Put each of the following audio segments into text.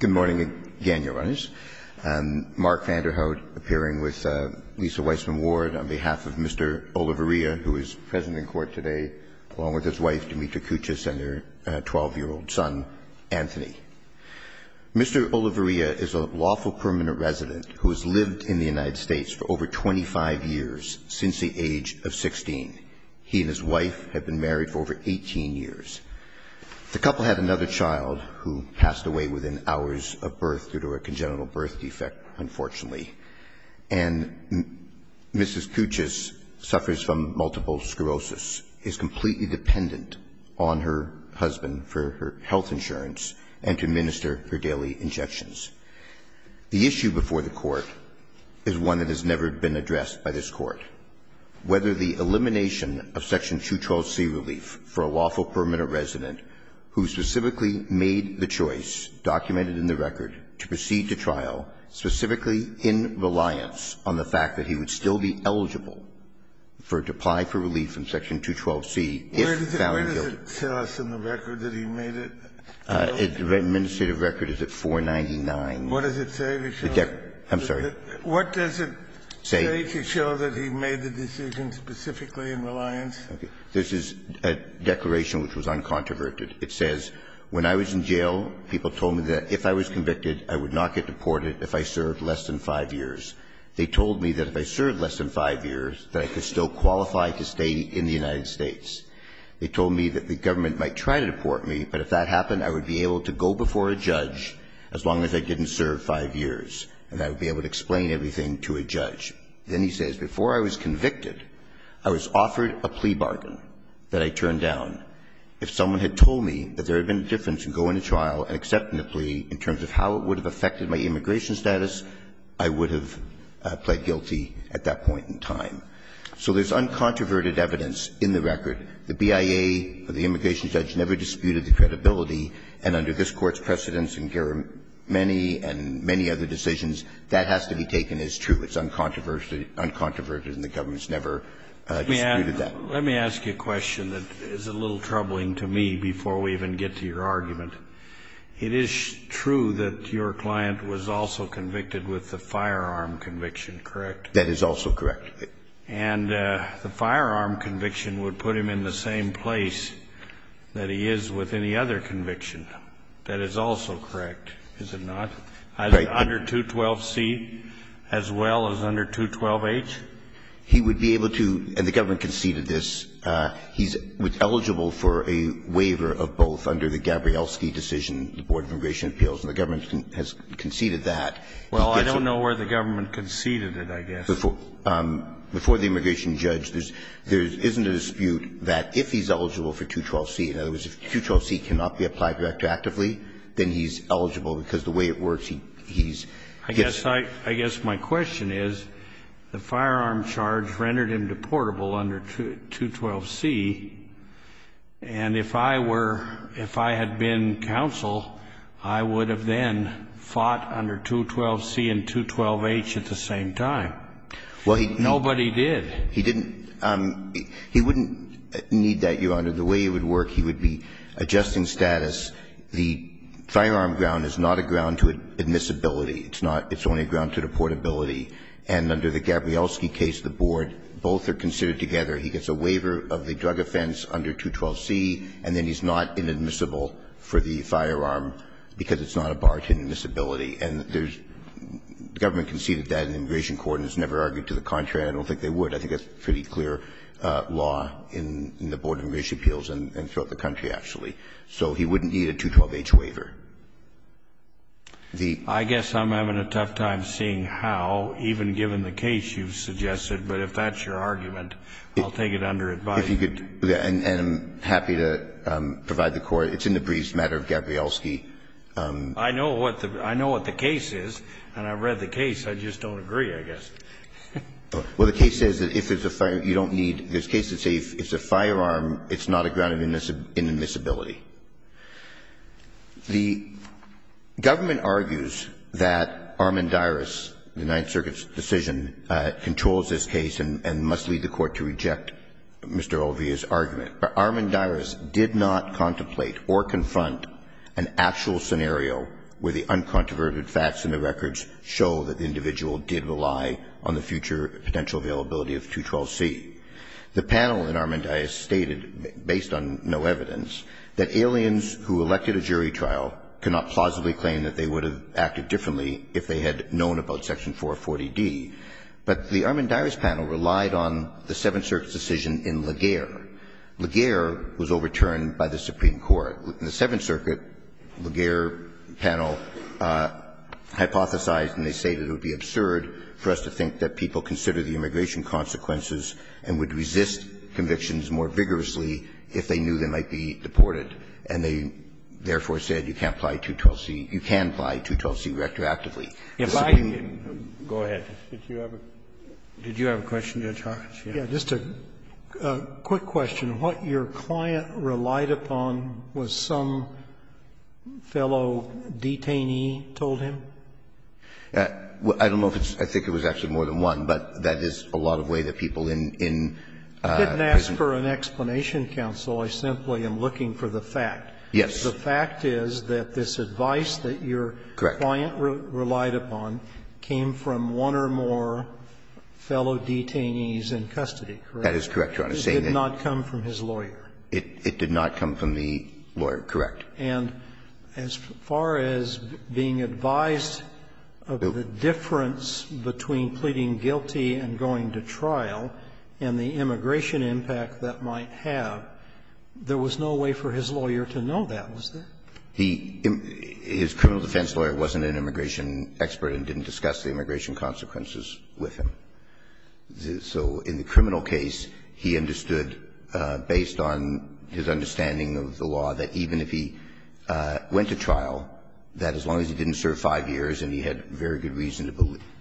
Good morning again, Your Honors. Mark Vanderhout, appearing with Lisa Weissman-Ward on behalf of Mr. Olivarria, who is present in court today, along with his wife, Demetra Kuchis, and their 12-year-old son, Anthony. Mr. Olivarria is a lawful permanent resident who has lived in the United States for over 25 years, since the age of 16. He and his wife have been married for over 18 years. The couple had another child who passed away within hours of birth due to a congenital birth defect, unfortunately. And Mrs. Kuchis suffers from multiple sclerosis, is completely dependent on her husband for her health insurance and to administer her daily injections. The issue before the Court is one that has never been addressed by this Court, whether the elimination of Section 212c relief for a lawful permanent resident who specifically made the choice, documented in the record, to proceed to trial, specifically in reliance on the fact that he would still be eligible for a deply for relief from Section 212c if found guilty. Kennedy, where does it tell us in the record that he made it? The administrative record is at 499. What does it say? I'm sorry. What does it say to show that he made the decision specifically in reliance? This is a declaration which was uncontroverted. It says, when I was in jail, people told me that if I was convicted, I would not get deported if I served less than 5 years. They told me that if I served less than 5 years, that I could still qualify to stay in the United States. They told me that the government might try to deport me, but if that happened, I would be able to go before a judge as long as I didn't serve 5 years, and I would be able to explain everything to a judge. Then he says, before I was convicted, I was offered a plea bargain that I turned down. If someone had told me that there had been a difference in going to trial and accepting the plea in terms of how it would have affected my immigration status, I would have pled guilty at that point in time. So there's uncontroverted evidence in the record. The BIA or the immigration judge never disputed the credibility. And under this Court's precedence and many other decisions, that has to be taken as true. It's uncontroverted, and the government has never disputed that. Let me ask you a question that is a little troubling to me before we even get to your argument. It is true that your client was also convicted with a firearm conviction, correct? That is also correct. And the firearm conviction would put him in the same place that he is with any other conviction. That is also correct, is it not? Right. Under 212C as well as under 212H? He would be able to, and the government conceded this, he's eligible for a waiver of both under the Gabrielski decision, the Board of Immigration Appeals. And the government has conceded that. Well, I don't know where the government conceded it, I guess. Before the immigration judge, there isn't a dispute that if he's eligible for 212C, in other words, if 212C cannot be applied to actively, then he's eligible because the way it works, he's yes. I guess my question is, the firearm charge rendered him deportable under 212C, and if I were, if I had been counsel, I would have then fought under 212C and 212H at the same time. Nobody did. He didn't. He wouldn't need that, Your Honor. The way it would work, he would be adjusting status. The firearm ground is not a ground to admissibility. It's not. It's only a ground to deportability. And under the Gabrielski case, the board, both are considered together. He gets a waiver of the drug offense under 212C, and then he's not inadmissible for the firearm because it's not a bar to admissibility. And there's, the government conceded that in the immigration court and has never argued to the contrary. I don't think they would. I think that's pretty clear law in the Board of Immigration Appeals and throughout the country, actually. So he wouldn't need a 212H waiver. The ---- I guess I'm having a tough time seeing how, even given the case you've suggested. But if that's your argument, I'll take it under advisement. If you could, and I'm happy to provide the Court. It's in the briefs, the matter of Gabrielski. I know what the case is, and I've read the case. I just don't agree, I guess. Well, the case says that if it's a firearm, you don't need this case. It says if it's a firearm, it's not a ground of inadmissibility. The government argues that Armendariz, the Ninth Circuit's decision, controls this case and must lead the Court to reject Mr. Olvia's argument. But Armendariz did not contemplate or confront an actual scenario where the uncontroverted facts in the records show that the individual did rely on the future potential availability of 212C. The panel in Armendariz stated, based on no evidence, that aliens who elected a jury trial cannot plausibly claim that they would have acted differently if they had known about Section 440D. But the Armendariz panel relied on the Seventh Circuit's decision in Laguerre. Laguerre was overturned by the Supreme Court. In the Seventh Circuit, Laguerre panel hypothesized, and they stated it would be absurd for us to think that people consider the immigration consequences and would resist convictions more vigorously if they knew they might be deported. And they, therefore, said you can't apply 212C – you can apply 212C retroactively. If I can go ahead. Did you have a question, Judge Hawkins? Just a quick question. What your client relied upon was some fellow detainee told him? I don't know if it's – I think it was actually more than one, but that is a lot of the way that people in prison. I didn't ask for an explanation, counsel. I simply am looking for the fact. Yes. The fact is that this advice that your client relied upon came from one or more fellow detainees in custody, correct? That is correct, Your Honor. It did not come from his lawyer. It did not come from the lawyer, correct. And as far as being advised of the difference between pleading guilty and going to trial and the immigration impact that might have, there was no way for his lawyer to know that, was there? His criminal defense lawyer wasn't an immigration expert and didn't discuss the immigration consequences with him. So in the criminal case, he understood, based on his understanding of the law, that even if he went to trial, that as long as he didn't serve five years and he had very good reason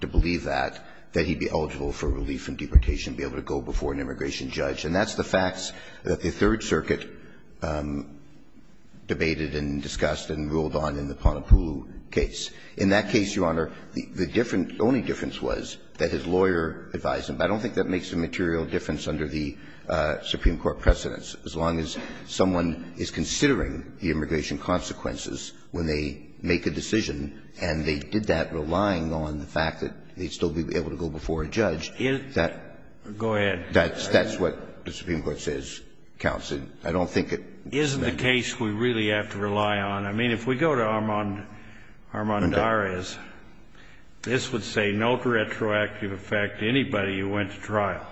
to believe that, that he'd be eligible for relief from deportation and be able to go before an immigration judge. And that's the facts that the Third Circuit debated and discussed and ruled on in the Ponapulu case. In that case, Your Honor, the only difference was that his lawyer advised him. But I don't think that makes a material difference under the Supreme Court precedents. As long as someone is considering the immigration consequences when they make a decision and they did that relying on the fact that they'd still be able to go before a judge, that's what the Supreme Court says counts. I don't think it makes a difference. I mean, if we go to Armand Dares, this would say no retroactive effect to anybody who went to trial.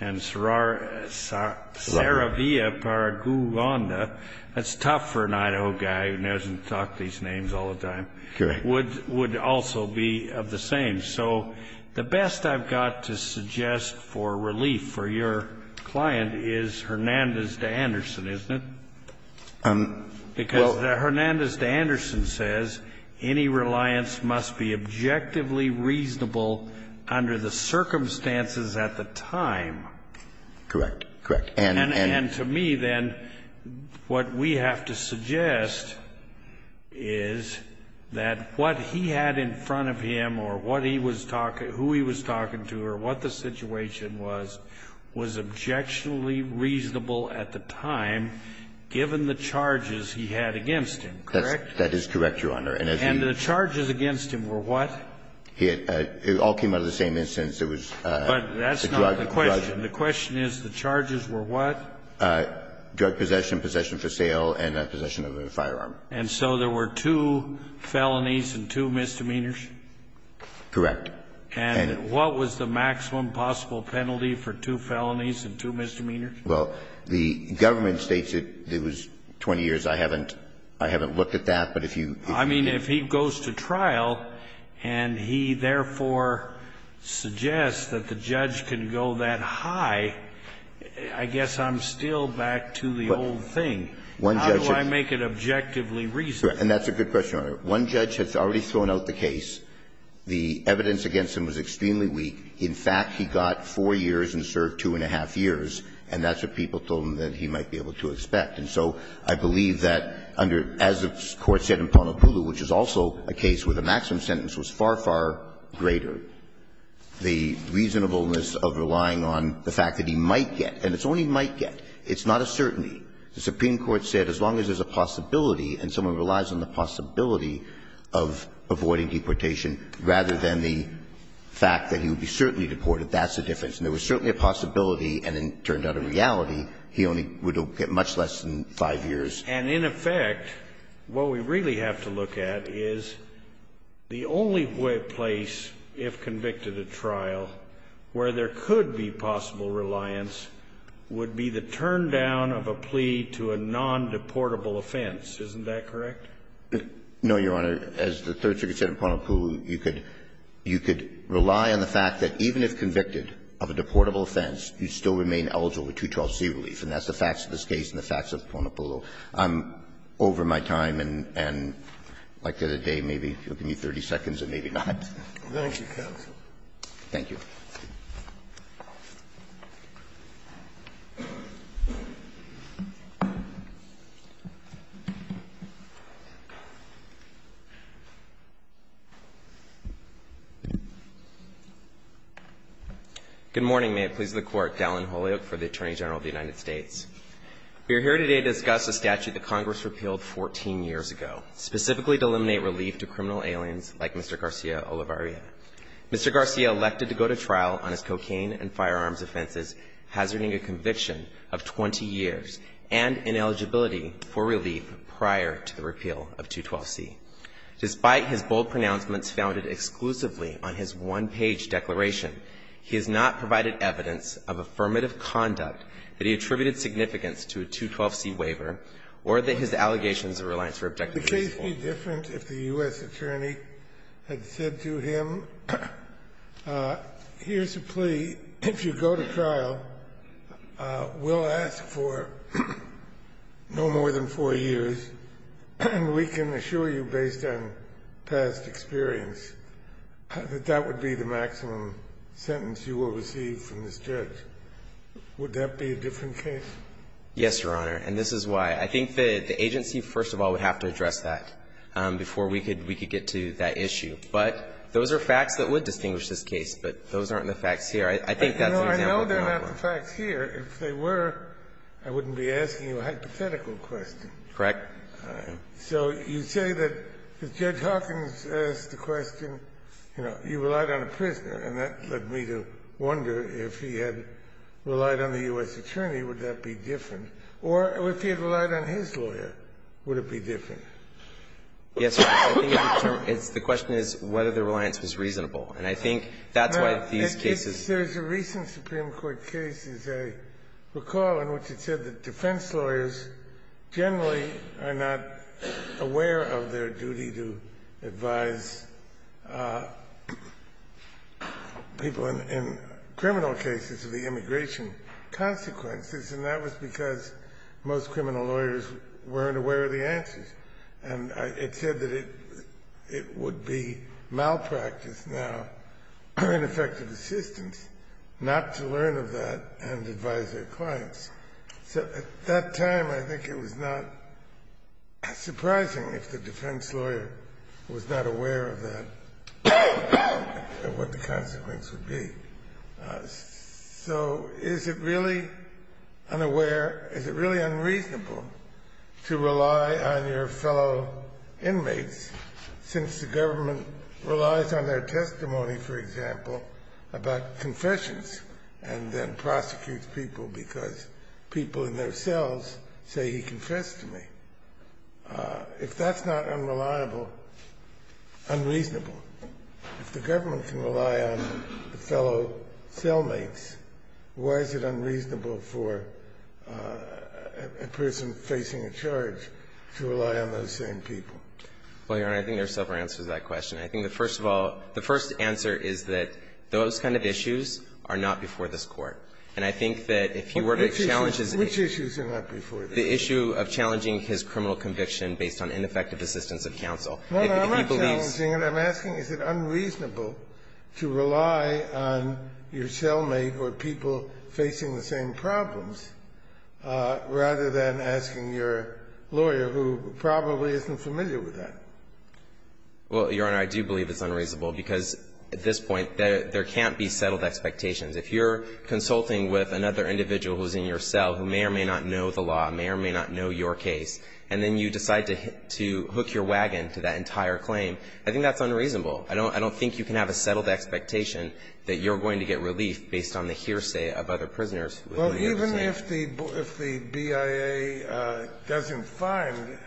And Saravia Paraguanda, that's tough for an Idaho guy who knows and talks these names all the time, would also be of the same. So the best I've got to suggest for relief for your client is Hernandez de Anderson, isn't it? Because Hernandez de Anderson says any reliance must be objectively reasonable under the circumstances at the time. Correct. Correct. And to me, then, what we have to suggest is that what he had in front of him or what he was talking to, who he was talking to or what the situation was, was objectionably reasonable at the time, given the charges he had against him, correct? That is correct, Your Honor. And the charges against him were what? It all came out of the same instance. It was the drug. But that's not the question. The question is the charges were what? Drug possession, possession for sale, and possession of a firearm. And so there were two felonies and two misdemeanors? Correct. And what was the maximum possible penalty for two felonies and two misdemeanors? Well, the government states it was 20 years. I haven't looked at that. But if you... I mean, if he goes to trial and he therefore suggests that the judge can go that high, I guess I'm still back to the old thing. How do I make it objectively reasonable? And that's a good question, Your Honor. One judge has already thrown out the case. The evidence against him was extremely weak. In fact, he got four years and served two and a half years. And that's what people told him that he might be able to expect. And so I believe that under as the Court said in Ponopulu, which is also a case where the maximum sentence was far, far greater, the reasonableness of relying on the fact that he might get. And it's only might get. It's not a certainty. The Supreme Court said as long as there's a possibility and someone relies on the possibility of avoiding deportation rather than the fact that he would be certainly deported, that's the difference. And there was certainly a possibility and it turned out in reality he only would get much less than five years. And in effect, what we really have to look at is the only place, if convicted at trial, where there could be possible reliance would be the turndown of a plea to a non-deportable offense. Isn't that correct? No, Your Honor. As the Third Circuit said in Ponopulu, you could rely on the fact that even if convicted of a deportable offense, you'd still remain eligible for 212c relief. And that's the facts of this case and the facts of Ponopulu. I'm over my time and I'd like to have a day, maybe, to give me 30 seconds and maybe not. Thank you. Thank you. Good morning. May it please the Court. Dallin Holyoak for the Attorney General of the United States. We are here today to discuss a statute that Congress repealed 14 years ago, specifically to eliminate relief to criminal aliens like Mr. Garcia Olivaria. Mr. Garcia elected to go to trial on his cocaine and firearms offenses, hazarding a conviction of 20 years and ineligibility for relief prior to the repeal of 212c. Despite his bold pronouncements founded exclusively on his one-page declaration, he has not provided evidence of affirmative conduct that he attributed significance to a 212c waiver or that his allegations of reliance were objectively useful. Would the case be different if the U.S. attorney had said to him, here's a plea. If you go to trial, we'll ask for no more than four years. And we can assure you, based on past experience, that that would be the maximum sentence you will receive from this judge. Would that be a different case? Yes, Your Honor. And this is why I think the agency, first of all, would have to address that before we could get to that issue. But those are facts that would distinguish this case, but those aren't the facts here. I think that's an example of nonviolence. I know they're not the facts here. If they were, I wouldn't be asking you a hypothetical question. Correct. So you say that if Judge Hawkins asked the question, you know, you relied on a prisoner, and that led me to wonder if he had relied on the U.S. attorney, would that be different? Or if he had relied on his lawyer, would it be different? Yes, Your Honor. I think it's the question is whether the reliance was reasonable. And I think that's why these cases No. There's a recent Supreme Court case, as I recall, in which it said that defense lawyers generally are not aware of their duty to advise people in criminal cases of the immigration consequences. And that was because most criminal lawyers weren't aware of the answers. And it said that it would be malpractice now, ineffective assistance, not to learn of that and advise their clients. So at that time, I think it was not surprising if the defense lawyer was not aware of that and what the consequences would be. So is it really unaware, is it really unreasonable to rely on your fellow inmates since the government relies on their testimony, for example, about confessions and then prosecutes people because people in their cells say he confessed to me? If that's not unreliable, unreasonable. If the government can rely on the fellow cellmates, why is it unreasonable for a person facing a charge to rely on those same people? Well, Your Honor, I think there are several answers to that question. I think that, first of all, the first answer is that those kind of issues are not before this Court. And I think that if he were to challenge his issues. Which issues are not before this Court? The issue of challenging his criminal conviction based on ineffective assistance of counsel. If he believes. I'm not challenging it. I'm asking is it unreasonable to rely on your cellmate or people facing the same problems rather than asking your lawyer who probably isn't familiar with that? Well, Your Honor, I do believe it's unreasonable because at this point there can't be settled expectations. If you're consulting with another individual who's in your cell who may or may not know the law, may or may not know your case, and then you decide to hook your wagon to that entire claim, I think that's unreasonable. I don't think you can have a settled expectation that you're going to get relief based on the hearsay of other prisoners. Well, even if the BIA doesn't find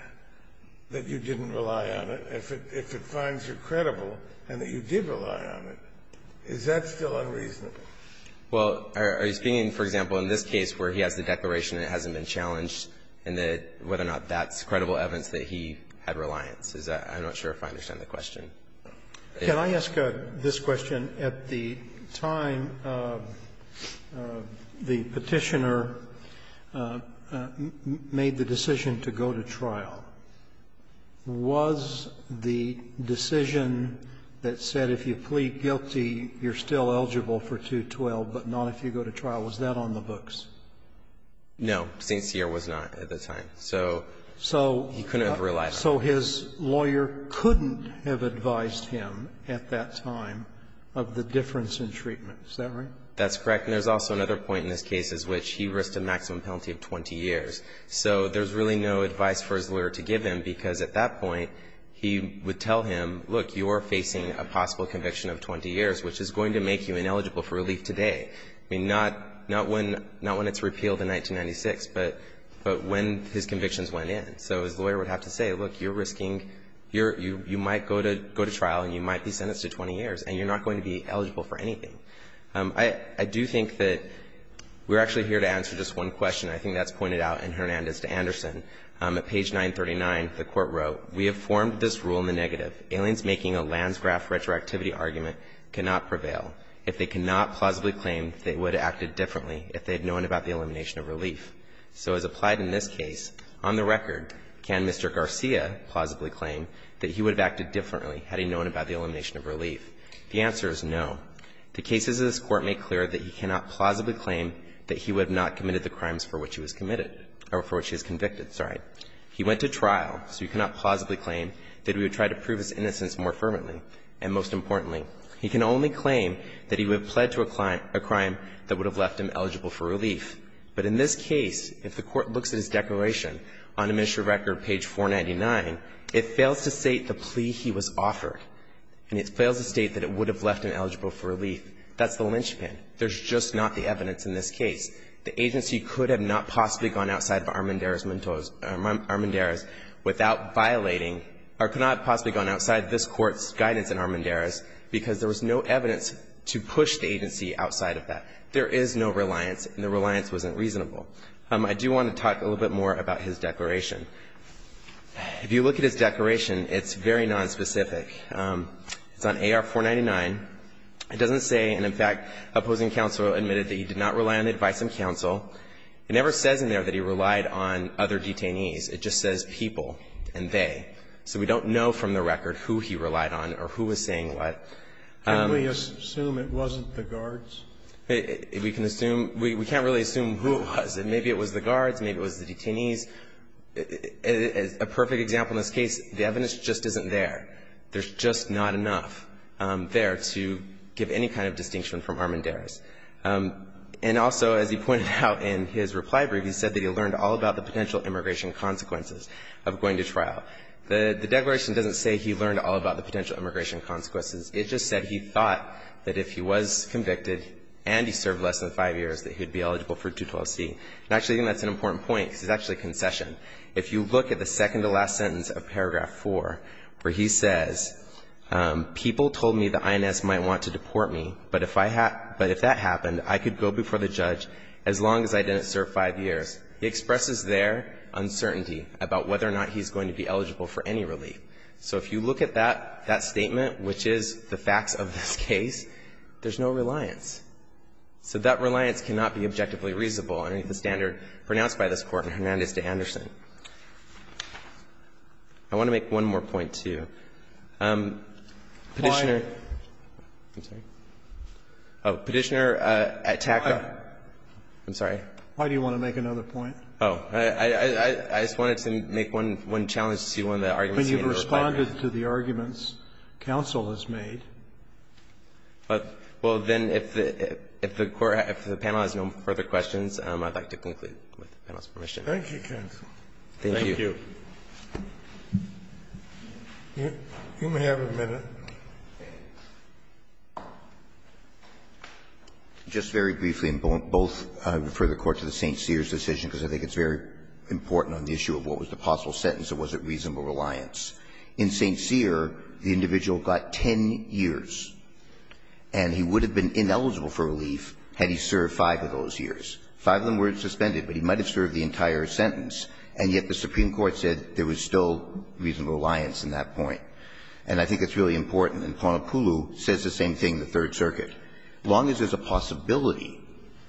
that you didn't rely on it, if it finds you're credible and that you did rely on it, is that still unreasonable? Well, are you speaking, for example, in this case where he has the declaration that hasn't been challenged and whether or not that's credible evidence that he had reliance? I'm not sure if I understand the question. Can I ask this question? At the time the Petitioner made the decision to go to trial, was the decision that said if you plead guilty, you're still eligible for 212, but not if you go to trial, was that on the books? No. St. Cyr was not at the time. So he couldn't have relied on it. So his lawyer couldn't have advised him at that time of the difference in treatment, is that right? That's correct. And there's also another point in this case in which he risked a maximum penalty of 20 years. So there's really no advice for his lawyer to give him, because at that point he would tell him, look, you are facing a possible conviction of 20 years, which is going to make you ineligible for relief today. I mean, not when it's repealed in 1996, but when his convictions went in. So his lawyer would have to say, look, you're risking, you might go to trial and you might be sentenced to 20 years, and you're not going to be eligible for anything. I do think that we're actually here to answer just one question. I think that's pointed out in Hernandez to Anderson. At page 939, the Court wrote, we have formed this rule in the negative. Aliens making a Lansgraf retroactivity argument cannot prevail if they cannot plausibly claim they would have acted differently if they had known about the elimination of relief. So as applied in this case, on the record, can Mr. Garcia plausibly claim that he would have acted differently had he known about the elimination of relief? The answer is no. The cases of this Court make clear that he cannot plausibly claim that he would have not committed the crimes for which he was committed or for which he was convicted. Sorry. He went to trial, so you cannot plausibly claim that he would try to prove his innocence more fervently. And most importantly, he can only claim that he would have pled to a crime that would have left him eligible for relief. But in this case, if the Court looks at his declaration on administrative record, page 499, it fails to state the plea he was offered. And it fails to state that it would have left him eligible for relief. That's the linchpin. There's just not the evidence in this case. The agency could have not possibly gone outside of Armendariz without violating or could not have possibly gone outside this Court's guidance in Armendariz because there was no evidence to push the agency outside of that. There is no reliance, and the reliance wasn't reasonable. I do want to talk a little bit more about his declaration. If you look at his declaration, it's very nonspecific. It's on AR-499. It doesn't say, and in fact, opposing counsel admitted that he did not rely on the advice of counsel. It never says in there that he relied on other detainees. It just says people and they. So we don't know from the record who he relied on or who was saying what. Can we assume it wasn't the guards? We can assume. We can't really assume who it was. Maybe it was the guards. Maybe it was the detainees. A perfect example in this case, the evidence just isn't there. There's just not enough there to give any kind of distinction from Armendariz. And also, as he pointed out in his reply brief, he said that he learned all about the potential immigration consequences of going to trial. The declaration doesn't say he learned all about the potential immigration consequences. It just said he thought that if he was convicted and he served less than five years that he would be eligible for 212C. And actually, I think that's an important point because it's actually a concession. If you look at the second to last sentence of paragraph 4 where he says, people told me the INS might want to deport me, but if that happened, I could go before the judge as long as I didn't serve five years. He expresses there uncertainty about whether or not he's going to be eligible for any relief. So if you look at that statement, which is the facts of this case, there's no reliance. So that reliance cannot be objectively reasonable under the standard pronounced by this Court in Hernandez v. Anderson. I want to make one more point, too. Petitioner. I'm sorry. Petitioner attacked. I'm sorry. Why do you want to make another point? Oh. I just wanted to make one challenge to one of the arguments. When you've responded to the arguments counsel has made. Well, then, if the panel has no further questions, I'd like to conclude with the panel's permission. Thank you. You may have a minute. Just very briefly, and both refer the Court to the St. Cyr's decision, because I think it's very important on the issue of what was the possible sentence and was it reasonable reliance. In St. Cyr, the individual got 10 years, and he would have been ineligible for relief had he served five of those years. Five of them were suspended, but he might have served the entire sentence, and yet the Supreme Court said there was still reasonable reliance in that point. And I think it's really important. And Ponopulu says the same thing in the Third Circuit. As long as there's a possibility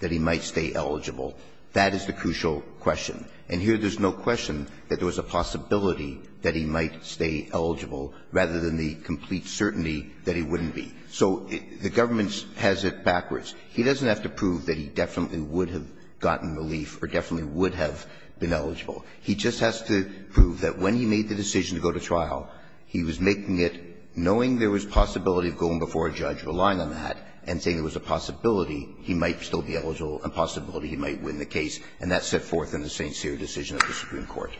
that he might stay eligible, that is the crucial question. And here there's no question that there was a possibility that he might stay eligible rather than the complete certainty that he wouldn't be. So the government has it backwards. He doesn't have to prove that he definitely would have gotten relief or definitely would have been eligible. He just has to prove that when he made the decision to go to trial, he was making it knowing there was possibility of going before a judge relying on that and saying there was a possibility he might still be eligible and a possibility he might win the case, and that set forth in the St. Cyr decision of the Supreme Court.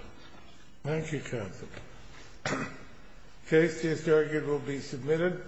Thank you, counsel. The case is argued and will be submitted.